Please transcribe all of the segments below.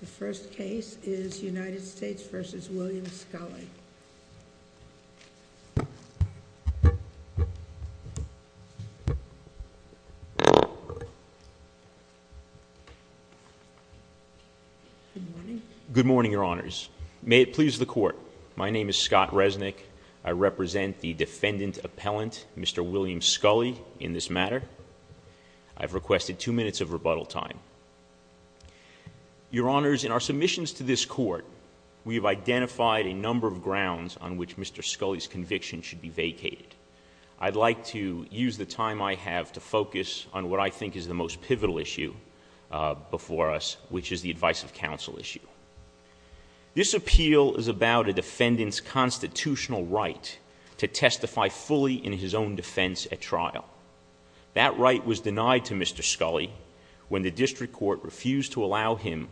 The first case is United States v. William Sculley. Good morning, Your Honors. May it please the Court. My name is Scott Resnick. I represent the defendant-appellant, Mr. William Sculley, in this matter. I've requested two minutes of rebuttal time. Your Honors, in our submissions to this Court, we have identified a number of grounds on which Mr. Sculley's conviction should be vacated. I'd like to use the time I have to focus on what I think is the most pivotal issue before us, which is the advice of counsel issue. This appeal is about a defendant's constitutional right to testify fully in his own defense at trial. That right was denied to Mr. Sculley when the District Court refused to allow him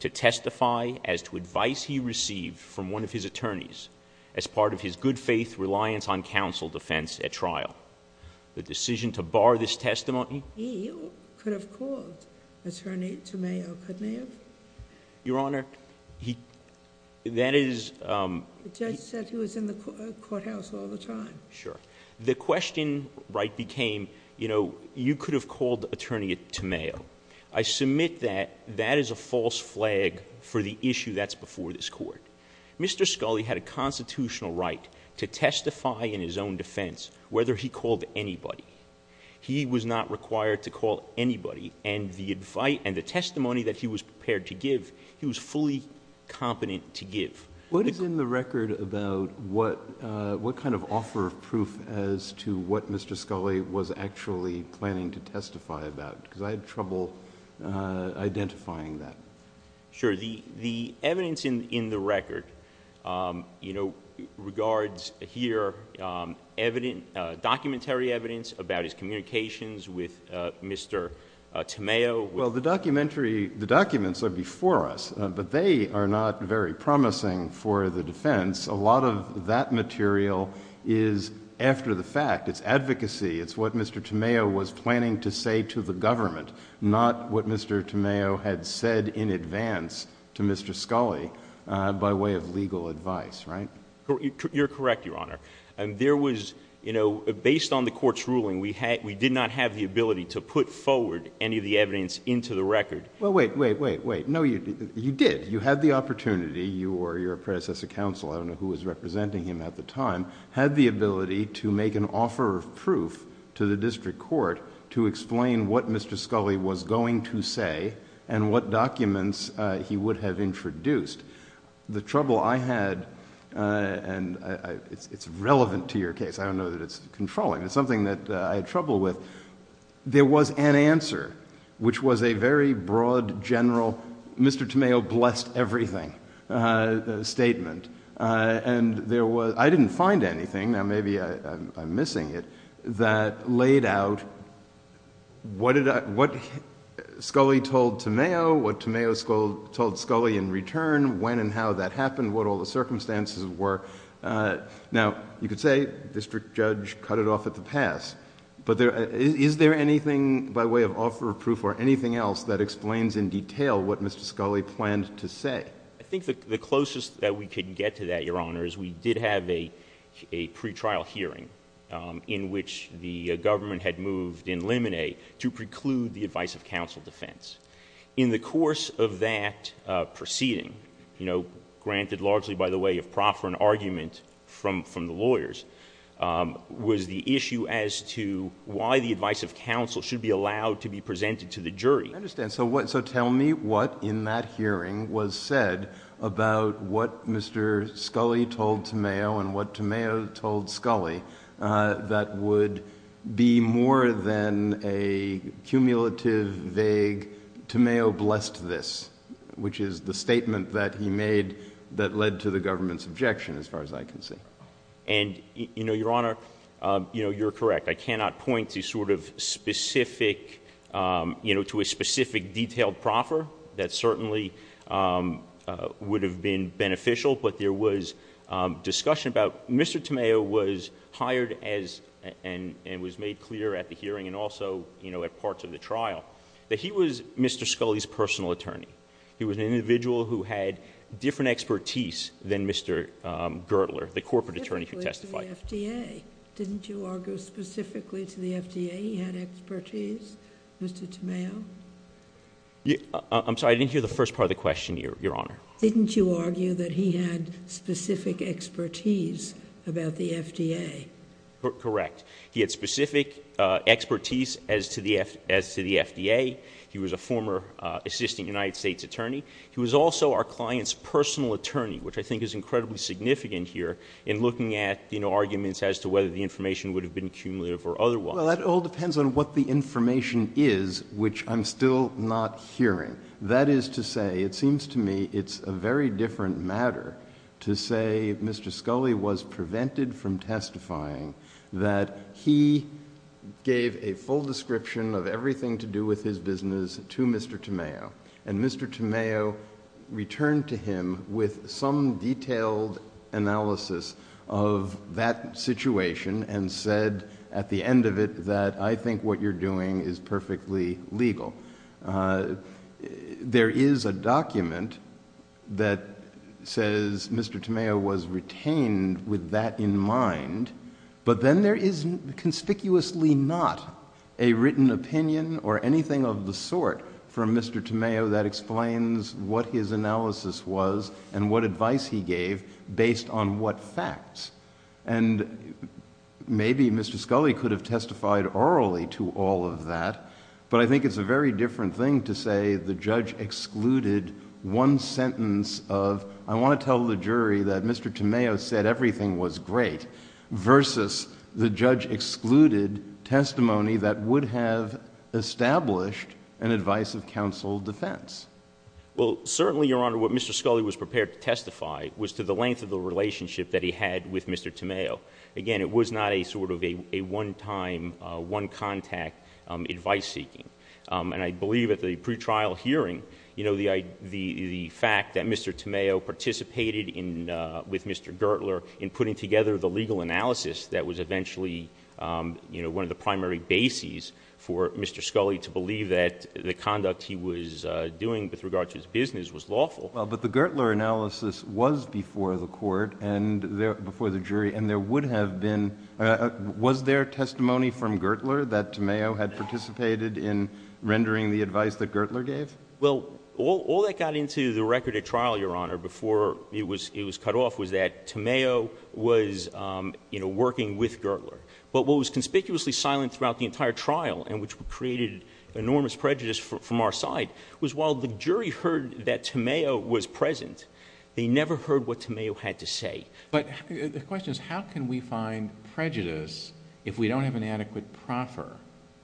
to testify as to advice he received from one of his attorneys as part of his good-faith reliance on counsel defense at trial. The decision to bar this testimony? He could have called attorney to mayo, couldn't he have? Your Honor, he... that is... The judge said he was in the courthouse all the time. Sure. The question right became, you know, you could have called attorney to mayo. I submit that that is a false flag for the issue that's before this Court. Mr. Sculley had a constitutional right to testify in his own defense whether he called anybody. He was not required to call anybody, and the advice and the testimony that he was prepared to give, he was fully competent to give. What is in the record about what kind of offer of proof as to what Mr. Sculley was actually planning to testify about? Because I had trouble identifying that. Sure. The evidence in the record, you know, regards here documentary evidence about his communications with Mr. Tameo. Well, the documentary... the documents are before us, but they are not very promising for the defense. A lot of that material is after the fact. It's advocacy. It's what Mr. Tameo was planning to say to the government, not what Mr. Tameo had said in advance to Mr. Sculley by way of legal advice, right? You're correct, Your Honor. There was... you know, based on the Court's ruling, we did not have the ability to put forward any of the evidence into the record. Well, wait, wait, wait, wait. No, you did. You had the opportunity. You or your predecessor counsel, I don't know who was representing him at the time, had the ability to make an offer of proof to the district court to explain what Mr. Sculley was going to say and what documents he would have introduced. The trouble I had... and it's relevant to your case. I don't know that it's controlling. It's something that I had trouble with. There was an answer, which was a very broad, general, Mr. Tameo blessed everything statement. I didn't find anything, now maybe I'm missing it, that laid out what Sculley told Tameo, what Tameo told Sculley in return, when and how that happened, what all the circumstances were. Now, you could say the district judge cut it off at the pass, but is there anything by way of offer of proof or anything else that explains in detail what Mr. Sculley planned to say? I think the closest that we could get to that, Your Honor, is we did have a pretrial hearing in which the government had moved in limine to preclude the advice of counsel defense. In the course of that proceeding, granted largely by the way of proffer and argument from the lawyers, was the issue as to why the advice of counsel should be allowed to be presented to the jury. I understand. So tell me what in that hearing was said about what Mr. Sculley told Tameo and what Tameo told Sculley that would be more than a cumulative, vague, Tameo blessed this, which is the statement that he made that led to the government's objection as far as I can see. And, you know, Your Honor, you know, you're correct. I cannot point to sort of specific, you know, to a specific detailed proffer. That certainly would have been beneficial, but there was discussion about Mr. Tameo was hired as, and was made clear at the hearing and also, you know, at parts of the trial, that he was Mr. Sculley's personal attorney. He was an individual who had different expertise than Mr. Gertler, the corporate attorney who testified. Didn't you argue specifically to the FDA he had expertise, Mr. Tameo? I'm sorry, I didn't hear the first part of the question, Your Honor. Didn't you argue that he had specific expertise about the FDA? Correct. He had specific expertise as to the FDA. He was a former assistant United States attorney. He was also our client's personal attorney, which I think is incredibly significant here in looking at, you know, arguments as to whether the information would have been cumulative or otherwise. Well, that all depends on what the information is, which I'm still not hearing. That is to say, it seems to me it's a very different matter to say Mr. Sculley was prevented from testifying, that he gave a full description of everything to do with his business to Mr. Tameo. And Mr. Tameo returned to him with some detailed analysis of that situation and said at the end of it that I think what you're doing is perfectly legal. There is a document that says Mr. Tameo was retained with that in mind. But then there is conspicuously not a written opinion or anything of the sort from Mr. Tameo that explains what his analysis was and what advice he gave based on what facts. And maybe Mr. Sculley could have testified orally to all of that. But I think it's a very different thing to say the judge excluded one sentence of I want to tell the jury that Mr. Tameo said everything was great versus the judge excluded testimony that would have established an advice of counsel defense. Well, certainly, Your Honor, what Mr. Sculley was prepared to testify was to the length of the relationship that he had with Mr. Tameo. Again, it was not a sort of a one-time, one-contact advice seeking. And I believe at the pre-trial hearing, the fact that Mr. Tameo participated with Mr. was lawful. Well, but the Gertler analysis was before the court and before the jury, and there would have been, was there testimony from Gertler that Tameo had participated in rendering the advice that Gertler gave? Well, all that got into the record at trial, Your Honor, before it was cut off, was that Tameo was working with Gertler. But what was conspicuously silent throughout the entire trial, and which created enormous prejudice from our side, was while the jury heard that Tameo was present, they never heard what Tameo had to say. But the question is, how can we find prejudice if we don't have an adequate proffer?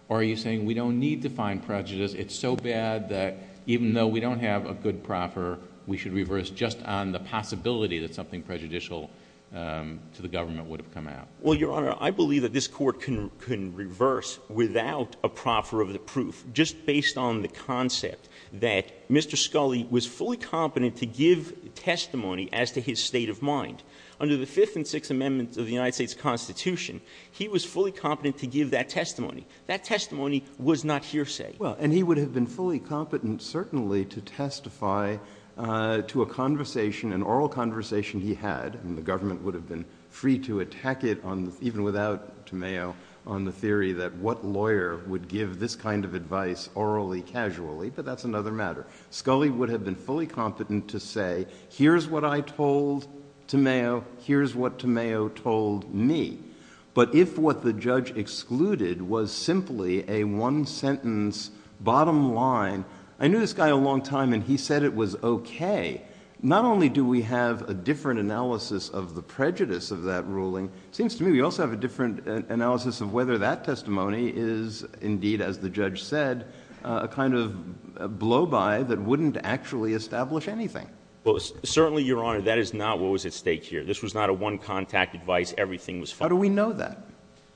Or are you saying we don't need to find prejudice? It's so bad that even though we don't have a good proffer, we should reverse just on the possibility that something prejudicial to the government would have come out? Well, Your Honor, I believe that this court can reverse without a proffer of the proof, just based on the concept that Mr. Scully was fully competent to give testimony as to his state of mind. Under the Fifth and Sixth Amendments of the United States Constitution, he was fully competent to give that testimony. That testimony was not hearsay. Well, and he would have been fully competent, certainly, to testify to a conversation, an oral conversation he had. And the government would have been free to attack it, even without Tameo, on the theory that what lawyer would give this kind of advice orally, casually. But that's another matter. Scully would have been fully competent to say, here's what I told Tameo, here's what Tameo told me. But if what the judge excluded was simply a one-sentence bottom line, I knew this guy a long time, and he said it was okay, not only do we have a different analysis of the prejudice of that ruling, it seems to me we also have a different analysis of whether that testimony is, indeed, as the judge said, a kind of blow-by that wouldn't actually establish anything. Well, certainly, Your Honor, that is not what was at stake here. This was not a one-contact advice, everything was fine. How do we know that?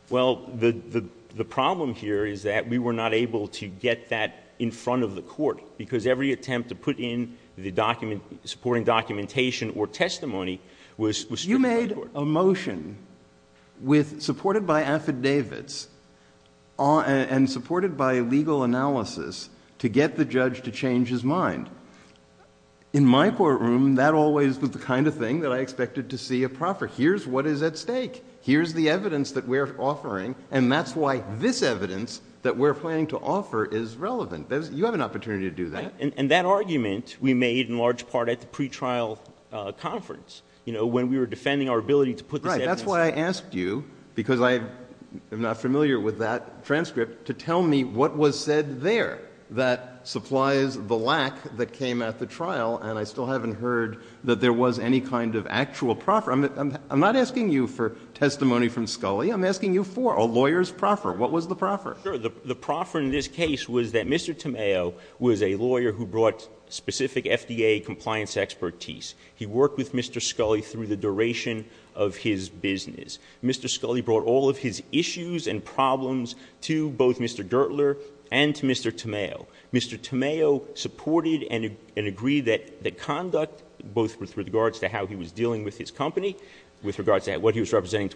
Well, the problem here is that we were not able to get that in front of the court, because every attempt to put in the supporting documentation or testimony was through the court. You made a motion supported by affidavits and supported by legal analysis to get the judge to change his mind. In my courtroom, that always was the kind of thing that I expected to see a proffer. Here's what is at stake. Here's the evidence that we're offering, and that's why this evidence that we're planning to offer is relevant. You have an opportunity to do that. And that argument we made in large part at the pretrial conference, you know, when we were defending our ability to put this evidence. I'm not familiar with that transcript to tell me what was said there that supplies the lack that came at the trial, and I still haven't heard that there was any kind of actual proffer. I'm not asking you for testimony from Scully. I'm asking you for a lawyer's proffer. What was the proffer? Sure. The proffer in this case was that Mr. Tamayo was a lawyer who brought specific FDA compliance expertise. He worked with Mr. Scully through the duration of his business. Mr. Scully brought all of his issues and problems to both Mr. Gertler and to Mr. Tamayo. Mr. Tamayo supported and agreed that the conduct, both with regards to how he was dealing with his company, with regards to what he was representing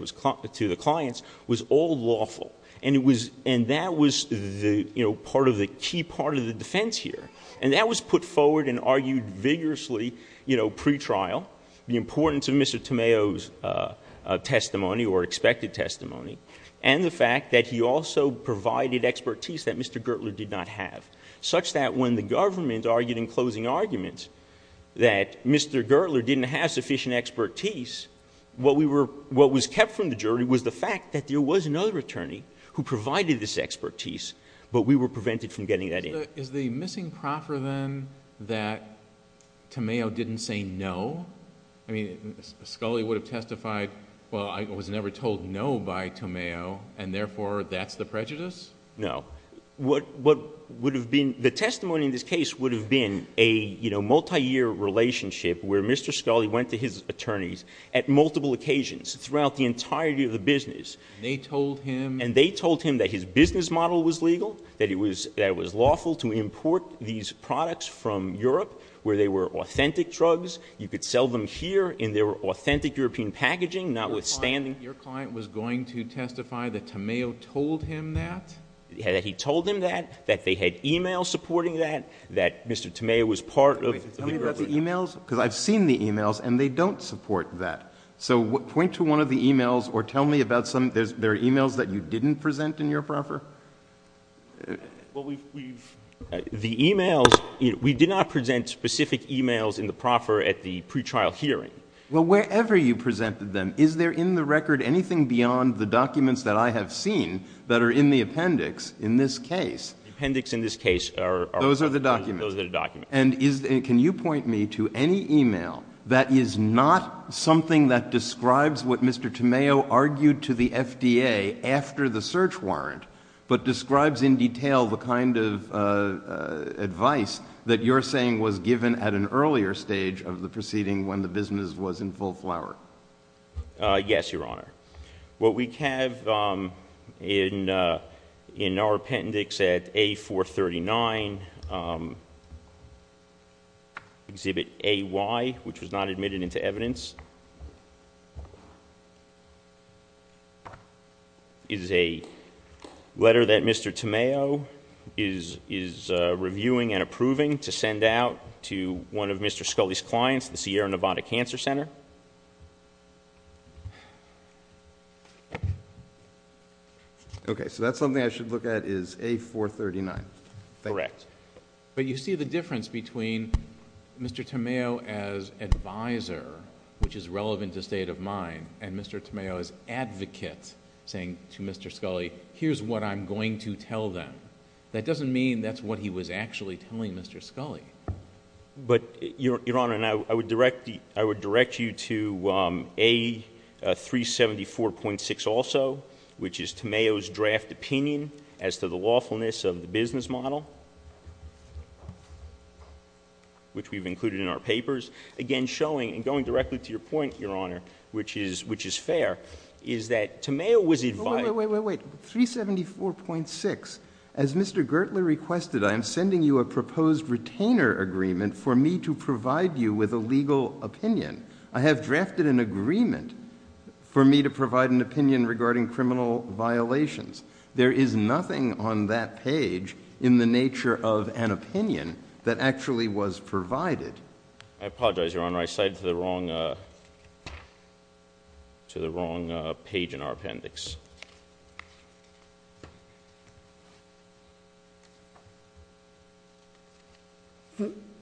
to the clients, was all lawful. And that was the, you know, part of the key part of the defense here. And that was put forward and argued vigorously, you know, pre-trial, the importance of Mr. Tamayo's testimony or expected testimony, and the fact that he also provided expertise that Mr. Gertler did not have, such that when the government argued in closing arguments that Mr. Gertler didn't have sufficient expertise, what was kept from the jury was the fact that there was another attorney who provided this expertise, but we were prevented from getting that in. Is the missing prop for them that Tamayo didn't say no? I mean, Scully would have testified, well, I was never told no by Tamayo, and therefore, that's the prejudice? No. What would have been... the testimony in this case would have been a, you know, multi-year relationship where Mr. Scully went to his attorneys at multiple occasions throughout the entirety of the business. They told him... these products from Europe where they were authentic drugs. You could sell them here in their authentic European packaging, notwithstanding... Your client was going to testify that Tamayo told him that? Yeah, that he told him that, that they had e-mails supporting that, that Mr. Tamayo was part of... Tell me about the e-mails, because I've seen the e-mails, and they don't support that. So point to one of the e-mails or tell me about some... there are e-mails that you didn't present in your proffer? Well, we've... the e-mails... we did not present specific e-mails in the proffer at the pre-trial hearing. Well, wherever you presented them, is there in the record anything beyond the documents that I have seen that are in the appendix in this case? The appendix in this case are... Those are the documents? Those are the documents. And is... can you point me to any e-mail that is not something that describes what Mr. Tamayo argued to the FDA after the search warrant, but describes in detail the kind of advice that you're saying was given at an earlier stage of the proceeding when the business was in full flower? Yes, Your Honor. What we have in our appendix at A439, Exhibit A-Y, which was not admitted into evidence, is a letter that Mr. Tamayo is reviewing and approving to send out to one of Mr. Scully's clients, the Sierra Nevada Cancer Center. Okay, so that's something I should look at is A439. Correct. But you see the difference between Mr. Tamayo as advisor, which is relevant to state of mind, and Mr. Tamayo as advocate saying to Mr. Scully, here's what I'm going to tell them. That doesn't mean that's what he was actually telling Mr. Scully. But, Your Honor, and I would direct you to A374.6 also, which is Tamayo's draft opinion as to the lawfulness of the business model, which we've included in our papers. Again, showing and going directly to your point, Your Honor, which is fair, is that Tamayo was advising... for me to provide you with a legal opinion. I have drafted an agreement for me to provide an opinion regarding criminal violations. There is nothing on that page in the nature of an opinion that actually was provided. I apologize, Your Honor. I cited the wrong page in our appendix.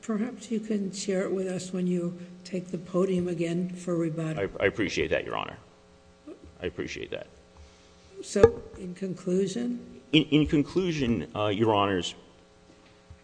Perhaps you can share it with us when you take the podium again for rebuttal. I appreciate that, Your Honor. I appreciate that. So, in conclusion? In conclusion, Your Honors,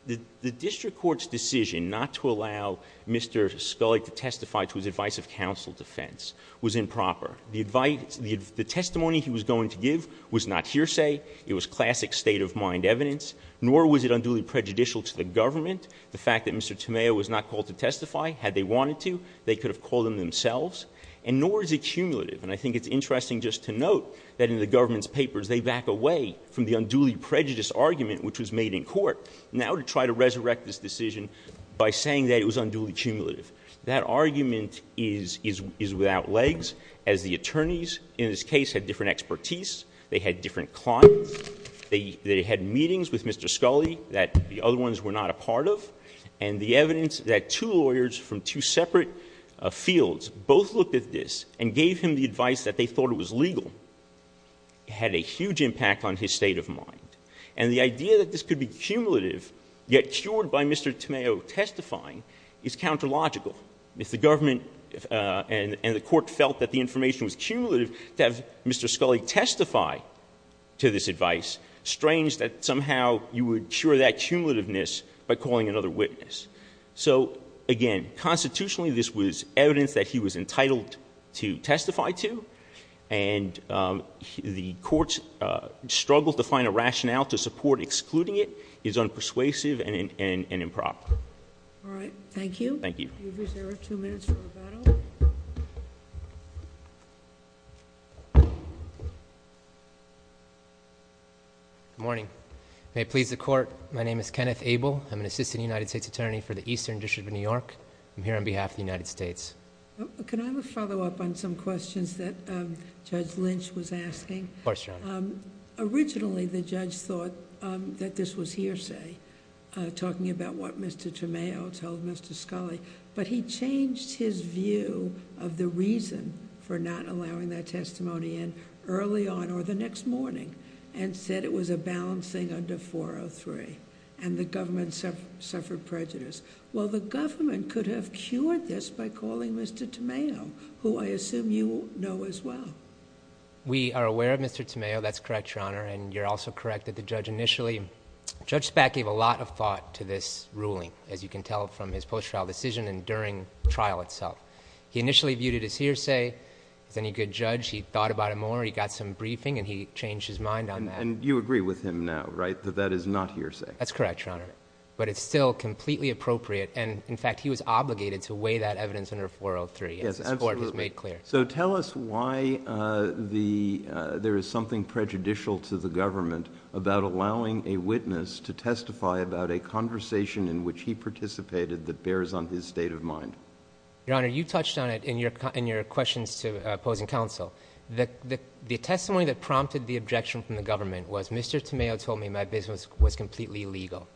the district court's decision not to allow Mr. Scully to testify to his advice of counsel defense was improper. The testimony he was going to give was not hearsay. It was classic state-of-mind evidence, nor was it unduly prejudicial to the government. The fact that Mr. Tamayo was not called to testify, had they wanted to, they could have called him themselves, and nor is it cumulative. And I think it's interesting just to note that in the government's papers, they back away from the unduly prejudiced argument, which was made in court, now to try to resurrect this decision by saying that it was unduly cumulative. That argument is without legs, as the attorneys in this case had different expertise. They had different clients. They had meetings with Mr. Scully that the other ones were not a part of. And the evidence that two lawyers from two separate fields both looked at this and gave him the advice that they thought it was legal had a huge impact on his state-of-mind. And the idea that this could be cumulative, yet cured by Mr. Tamayo testifying, is counter-logical. If the government and the court felt that the information was cumulative, to have Mr. Scully testify to this advice, strange that somehow you would cure that cumulativeness by calling another witness. So again, constitutionally, this was evidence that he was entitled to testify to. And the court's struggle to find a rationale to support excluding it is unpersuasive and improper. All right, thank you. Thank you. You're reserved two minutes for rebuttal. Good morning. May it please the court, my name is Kenneth Abel. I'm an Assistant United States Attorney for the Eastern District of New York. I'm here on behalf of the United States. Can I have a follow-up on some questions that Judge Lynch was asking? Of course, Your Honor. Originally, the judge thought that this was hearsay, talking about what Mr. Tamayo told Mr. Scully. But he changed his view of the reason for not allowing that testimony in early on or the next morning, and said it was a balancing under 403, and the government suffered prejudice. Well, the government could have cured this by calling Mr. Tamayo, who I assume you know as well. We are aware of Mr. Tamayo. That's correct, Your Honor. And you're also correct that the judge initially... Judge Spak gave a lot of thought to this ruling, as you can tell from his post-trial decision and during trial itself. He initially viewed it as hearsay. He's a good judge. He thought about it more. He got some briefing, and he changed his mind on that. And you agree with him now, right, that that is not hearsay? That's correct, Your Honor. But it's still completely appropriate. And, in fact, he was obligated to weigh that evidence under 403, as the court has made clear. So tell us why there is something prejudicial to the government about allowing a witness to testify about a conversation in which he participated that bears on his state of mind. Your Honor, you touched on it in your questions to opposing counsel. The testimony that prompted the objection from the government was, Mr. Tamayo told me my business was completely illegal.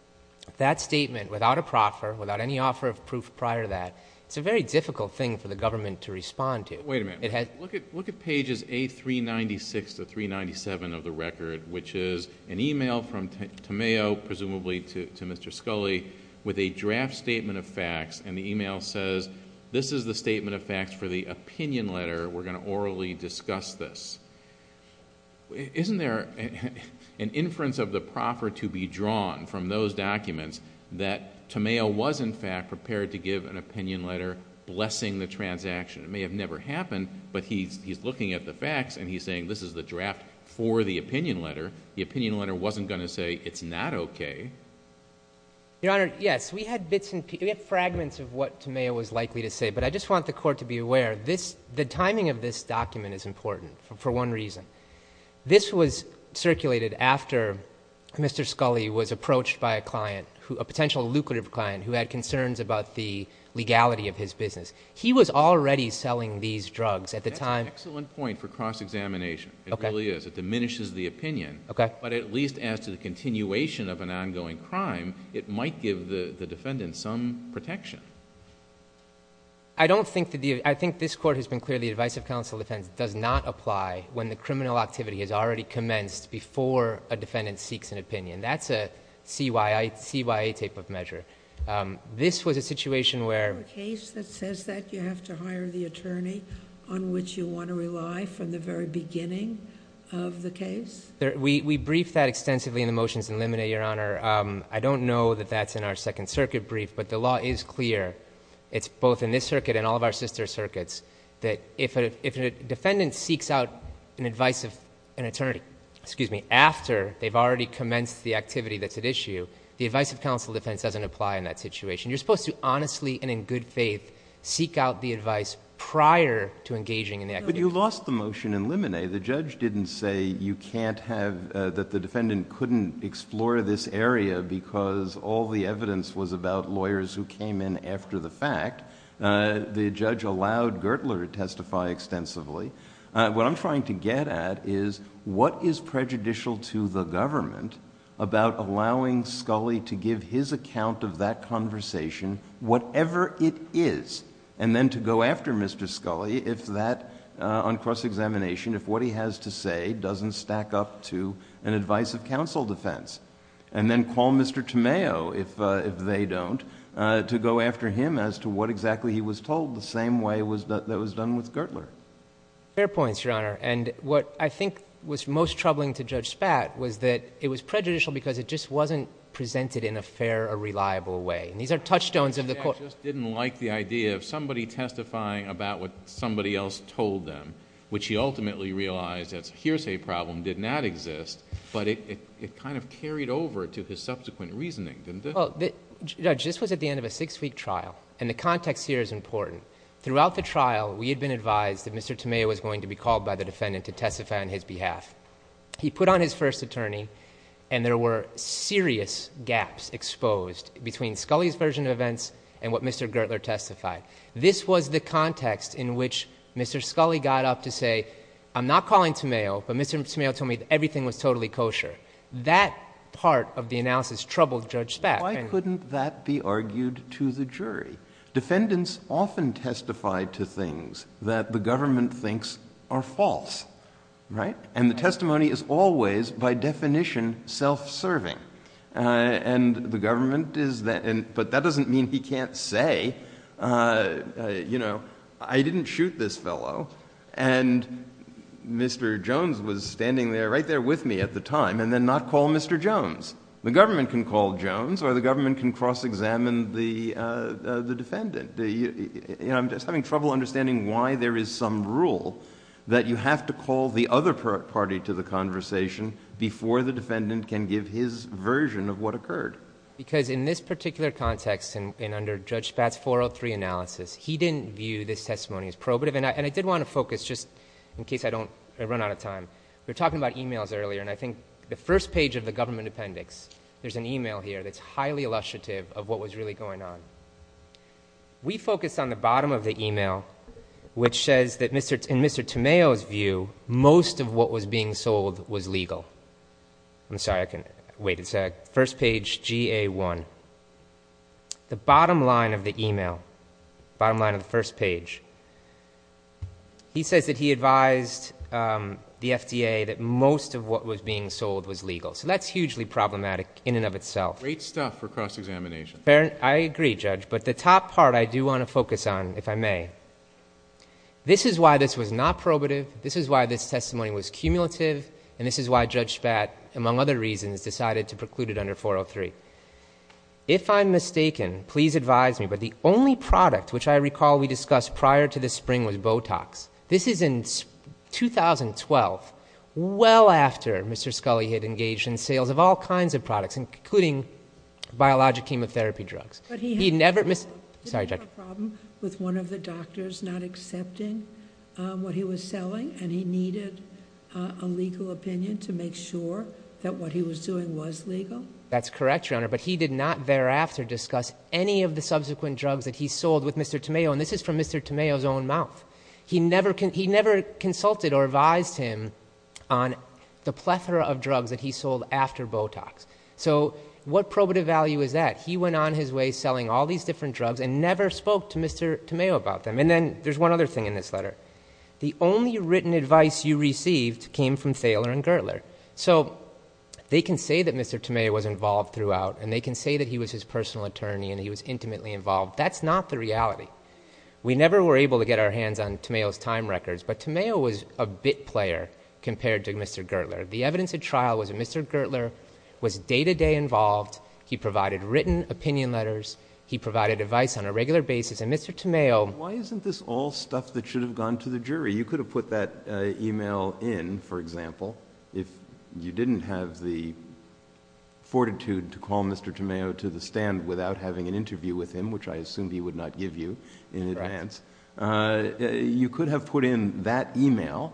That statement, without a proffer, without any offer of proof prior to that, it's a very difficult thing for the government to respond to. Wait a minute. Look at pages A396 to 397 of the record, which is an email from Tamayo, presumably to Mr. Scully, with a draft statement of facts, and the email says, this is the statement of facts for the opinion letter. We're going to orally discuss this. Isn't there an inference of the proffer to be drawn from those documents that Tamayo was, in fact, prepared to give an opinion letter blessing the transaction? It may have never happened, but he's looking at the facts and he's saying, this is the draft for the opinion letter. The opinion letter wasn't going to say, it's not okay. Your Honor, yes, we had bits and pieces, we had fragments of what Tamayo was likely to say, but I just want the court to be aware, the timing of this document is important for one reason. This was circulated after Mr. Scully was approached by a client, a potential lucrative client who had concerns about the legality of his business. He was already selling these drugs at the time... That's an excellent point for cross-examination. It really is. It diminishes the opinion, but at least as to the continuation of an ongoing crime, it might give the defendant some protection. I don't think... I think this court has been clear the advice of counsel defense does not apply when the criminal activity has already commenced before a defendant seeks an opinion. That's a CYA type of measure. This was a situation where... For a case that says that, you have to hire the attorney on which you want to rely from the very beginning of the case? We briefed that extensively in the motions in limine, Your Honor. I don't know that that's in our Second Circuit brief, but the law is clear. It's both in this circuit and all of our sister circuits that if a defendant seeks out an advice of an attorney, after they've already commenced the activity that's at issue, the advice of counsel defense doesn't apply in that situation. You're supposed to honestly and in good faith seek out the advice prior to engaging in the activity. But you lost the motion in limine. The judge didn't say you can't have... that the defendant couldn't explore this area because all the evidence was about lawyers who came in after the fact. The judge allowed Gertler to testify extensively. What I'm trying to get at is, what is prejudicial to the government about allowing Scully to give his account of that conversation, whatever it is, and then to go after Mr. Scully on cross-examination if what he has to say doesn't stack up to an advice of counsel defense? And then call Mr. Tomeo, if they don't, to go after him as to what exactly he was told, the same way that was done with Gertler. Fair points, Your Honor. And what I think was most troubling to Judge Spat was that it was prejudicial because it just wasn't presented in a fair or reliable way. And these are touchstones of the court... Spat just didn't like the idea of somebody testifying about what somebody else told them, which he ultimately realized as a hearsay problem did not exist, but it kind of carried over to his subsequent reasoning, didn't it? Judge, this was at the end of a six-week trial, and the context here is important. Throughout the trial, we had been advised that Mr. Tomeo was going to be called by the defendant to testify on his behalf. He put on his first attorney, and there were serious gaps exposed between Scully's version of events and what Mr. Gertler testified. This was the context in which Mr. Scully got up to say, I'm not calling Tomeo, but Mr. Tomeo told me that everything was totally kosher. That part of the analysis troubled Judge Spat. Why couldn't that be argued to the jury? Defendants often testify to things that the government thinks are false, right? And the testimony is always, by definition, self-serving. And the government is... but that doesn't mean he can't say, you know, I didn't shoot this fellow, and Mr. Jones was standing right there with me at the time, and then not call Mr. Jones. The government can call Jones, or the government can cross-examine the defendant. I'm just having trouble understanding why there is some rule that you have to call the other party to the conversation before the defendant can give his version of what occurred. Because in this particular context, and under Judge Spat's 403 analysis, he didn't view this testimony as probative. And I did want to focus, just in case I run out of time, we were talking about e-mails earlier, and I think the first page of the government appendix, there's an e-mail here that's highly illustrative of what was really going on. We focused on the bottom of the e-mail, which says that in Mr. Tomeo's view, most of what was being sold was legal. I'm sorry, I can... wait a sec. First page, GA1. The bottom line of the e-mail, bottom line of the first page, he says that he advised the FDA that most of what was being sold was legal. So that's hugely problematic in and of itself. Great stuff for cross-examination. I agree, Judge, but the top part I do want to focus on, if I may, this is why this was not probative, this is why this testimony was cumulative, and this is why Judge Spat, among other reasons, decided to preclude it under 403. If I'm mistaken, please advise me, but the only product which I recall we discussed prior to this spring was Botox. This is in 2012, well after Mr. Scully had engaged in sales of all kinds of products, including biologic chemotherapy drugs. But he had a problem with one of the doctors not accepting what he was selling, and he needed a legal opinion to make sure that what he was doing was legal? That's correct, Your Honor, but he did not thereafter discuss any of the subsequent drugs that he sold with Mr. Tameo, and this is from Mr. Tameo's own mouth. He never consulted or advised him on the plethora of drugs that he sold after Botox. So what probative value is that? He went on his way selling all these different drugs and never spoke to Mr. Tameo about them. And then there's one other thing in this letter. The only written advice you received came from Thaler and Gertler. So they can say that Mr. Tameo was involved throughout, and they can say that he was his personal attorney and he was intimately involved. That's not the reality. We never were able to get our hands on Tameo's time records, but Tameo was a bit player compared to Mr. Gertler. The evidence at trial was that Mr. Gertler was day-to-day involved. He provided written opinion letters. He provided advice on a regular basis, and Mr. Tameo Why isn't this all stuff that should have gone to the jury? You could have put that e-mail in, for example, if you didn't have the fortitude to call Mr. Tameo to the stand without having an interview with him, which I assume he would not give you in advance. You could have put in that e-mail,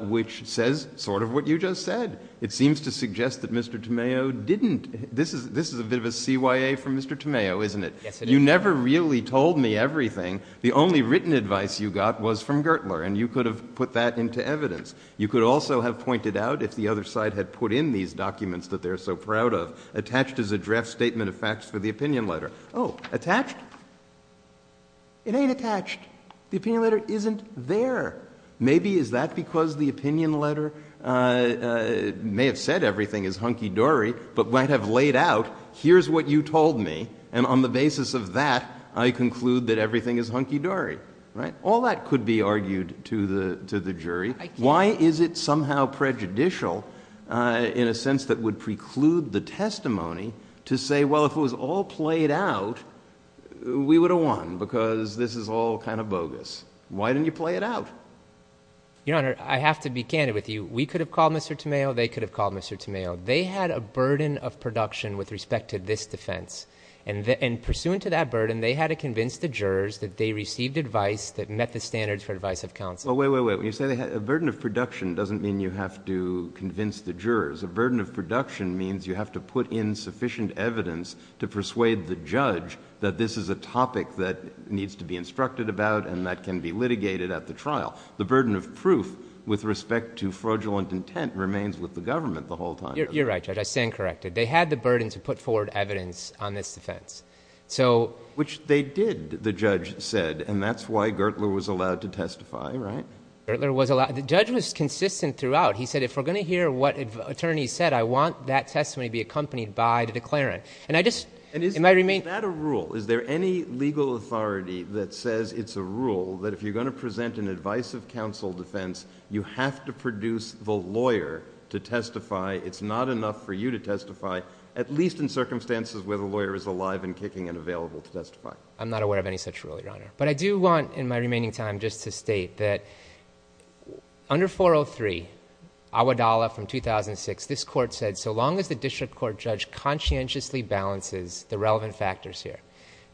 which says sort of what you just said. It seems to suggest that Mr. Tameo didn't. This is a bit of a CYA from Mr. Tameo, isn't it? You never really told me everything. The only written advice you got was from Gertler, and you could have put that into evidence. You could also have pointed out, if the other side had put in these documents that they're so proud of, attached is a draft statement of facts for the opinion letter. Oh, attached? It ain't attached. The opinion letter isn't there. Maybe is that because the opinion letter may have said everything is hunky-dory, but might have laid out, here's what you told me, and on the basis of that, I conclude that everything is hunky-dory. All that could be argued to the jury. Why is it somehow prejudicial in a sense that would preclude the testimony to say, well, if it was all played out, we would have won because this is all kind of bogus. Why didn't you play it out? Your Honor, I have to be candid with you. We could have called Mr. Tameo. They could have called Mr. Tameo. They had a burden of production with respect to this defense, and pursuant to that burden, they had to convince the jurors that they received advice that met the standards for advice of counsel. Well, wait, wait, wait. When you say they had a burden of production, it doesn't mean you have to convince the jurors. A burden of production means you have to put in sufficient evidence to persuade the judge that this is a topic that needs to be instructed about and that can be litigated at the trial. The burden of proof with respect to fraudulent intent remains with the government the whole time. You're right, Judge. I stand corrected. They had the burden to put forward evidence on this defense. Which they did, the judge said, and that's why Gertler was allowed to testify, right? Gertler was allowed. The judge was consistent throughout. He said, if we're going to hear what attorneys said, I want that testimony to be accompanied by the declarant. And I just— Is that a rule? Is there any legal authority that says it's a rule that if you're going to present an advice of counsel defense, you have to produce the lawyer to testify. It's not enough for you to testify, at least in circumstances where the lawyer is alive and kicking and available to testify. I'm not aware of any such rule, Your Honor. But I do want, in my remaining time, just to state that under 403, Awadallah from 2006, this court said so long as the district court judge conscientiously balances the relevant factors here,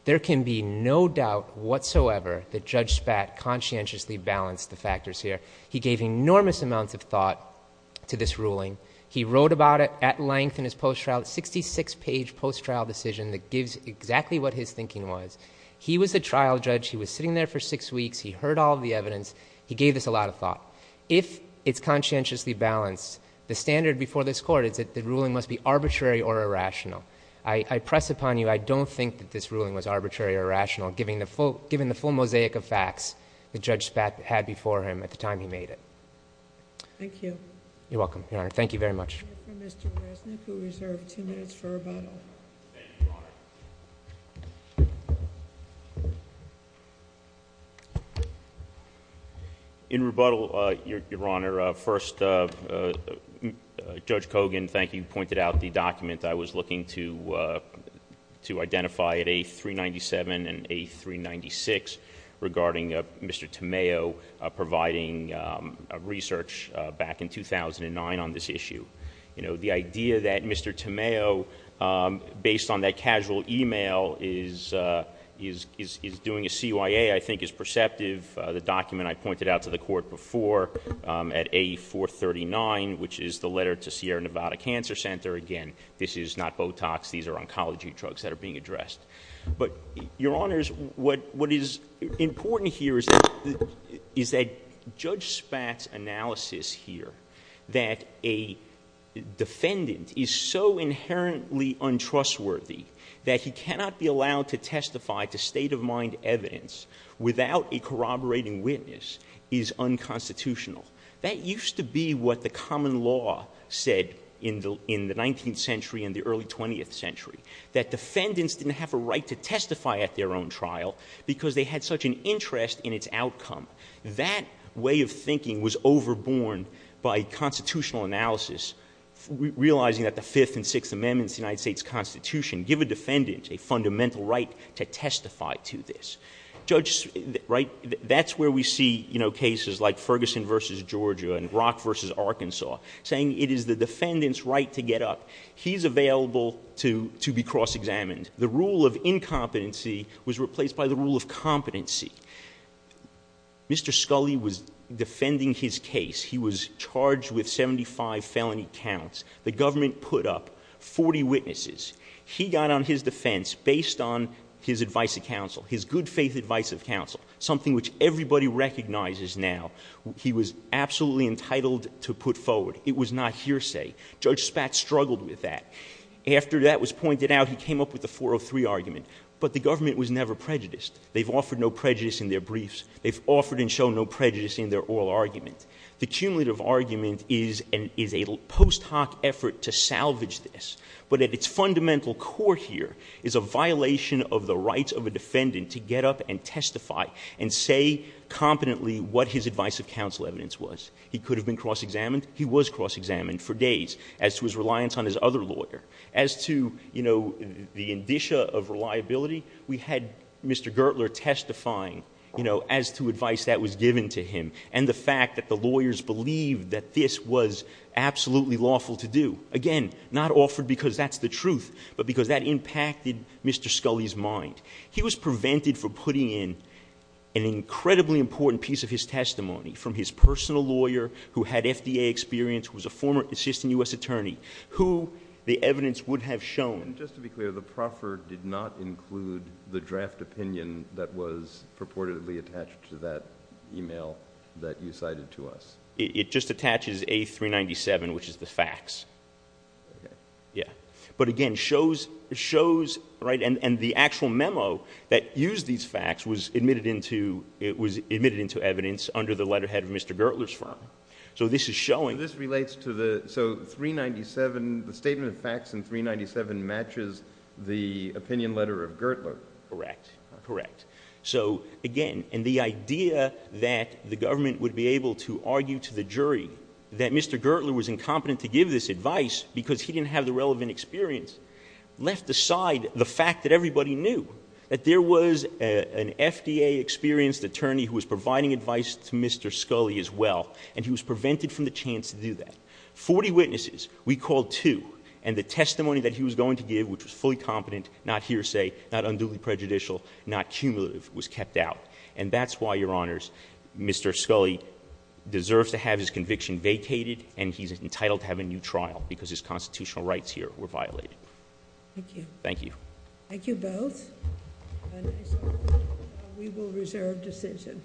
there can be no doubt whatsoever that Judge Spat conscientiously balanced the factors here. He gave enormous amounts of thought to this ruling. He wrote about it at length in his post-trial, a 66-page post-trial decision that gives exactly what his thinking was. He was the trial judge. He was sitting there for six weeks. He heard all of the evidence. He gave this a lot of thought. If it's conscientiously balanced, the standard before this court is that the ruling must be arbitrary or irrational. I press upon you, I don't think that this ruling was arbitrary or irrational, given the full mosaic of facts that Judge Spat had before him at the time he made it. Thank you. You're welcome, Your Honor. Thank you very much. We have Mr. Resnick, who reserved two minutes for rebuttal. Thank you, Your Honor. In rebuttal, Your Honor, first, Judge Kogan, thank you, pointed out the document I was looking to identify at A397 and A396 regarding Mr. Tamayo providing research back in 2009 on this issue. The idea that Mr. Tamayo, based on that casual email, is doing a CYA, I think is perceptive. The document I pointed out to the court before at A439, which is the letter to Sierra Nevada Cancer Center. Again, this is not Botox. These are oncology drugs that are being addressed. But, Your Honors, what is important here is that Judge Spat's analysis here, that a defendant is so inherently untrustworthy that he cannot be allowed to testify to state-of-mind evidence without a corroborating witness, is unconstitutional. That used to be what the common law said in the 19th century and the early 20th century, that defendants didn't have a right to testify at their own trial because they had such an interest in its outcome. That way of thinking was overborne by constitutional analysis, realizing that the Fifth and Sixth Amendments of the United States Constitution give a defendant a fundamental right to testify to this. That's where we see cases like Ferguson v. Georgia and Brock v. Arkansas, saying it is the defendant's right to get up. He's available to be cross-examined. The rule of incompetency was replaced by the rule of competency. Mr. Scully was defending his case. He was charged with 75 felony counts. The government put up 40 witnesses. He got on his defense based on his advice of counsel, his good-faith advice of counsel, something which everybody recognizes now. He was absolutely entitled to put forward. It was not hearsay. Judge Spat struggled with that. After that was pointed out, he came up with the 403 argument. But the government was never prejudiced. They've offered no prejudice in their briefs. They've offered and shown no prejudice in their oral argument. The cumulative argument is a post hoc effort to salvage this. But at its fundamental core here is a violation of the rights of a defendant to get up and testify and say competently what his advice of counsel evidence was. He could have been cross-examined. He was cross-examined for days as to his reliance on his other lawyer. As to, you know, the indicia of reliability, we had Mr. Gertler testifying, you know, as to advice that was given to him and the fact that the lawyers believed that this was absolutely lawful to do. Again, not offered because that's the truth, but because that impacted Mr. Scully's mind. He was prevented from putting in an incredibly important piece of his testimony from his personal lawyer who had FDA experience, who was a former assistant U.S. attorney, who the evidence would have shown. And just to be clear, the proffer did not include the draft opinion that was purportedly attached to that e-mail that you cited to us. It just attaches A397, which is the facts. Okay. Yeah. But again, shows, right, and the actual memo that used these facts was admitted into evidence under the letterhead of Mr. Gertler's firm. So this is showing. So this relates to the, so 397, the statement of facts in 397 matches the opinion letter of Gertler. Correct. Correct. So again, and the idea that the government would be able to argue to the jury that Mr. Gertler was incompetent to give this advice because he didn't have the relevant experience left aside the fact that everybody knew that there was an FDA experienced attorney who was providing advice to Mr. Scully as well, and he was prevented from the chance to do that. Forty witnesses, we called two, and the testimony that he was going to give, which was fully competent, not hearsay, not unduly prejudicial, not cumulative, was kept out. And that's why, Your Honors, Mr. Scully deserves to have his conviction vacated, and he's entitled to have a new trial because his constitutional rights here were violated. Thank you. Thank you. Thank you both. We will reserve decision.